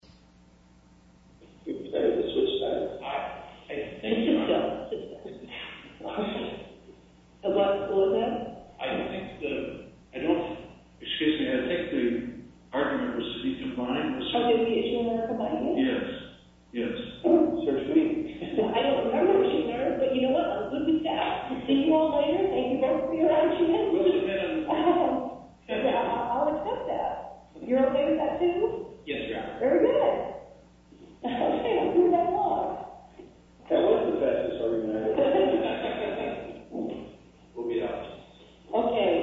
Are you prepared to switch sides? Aye. Thank you, Your Honor. Sit down, sit down. The law school is in? I don't think the... I don't... Excuse me, I don't think the argument was to be combined. Oh, did the issue matter combining? Yes, yes. Oh, so sweet. I don't remember what she heard, but you know what? Let's move this out. See you all later. Thank you both for your attention. Will do, ma'am. Yeah, I'll accept that. You're okay with that, too? Yes, Your Honor. Very good. Okay, let's move that along. That was the best disargument I've ever heard. We'll be out. Okay.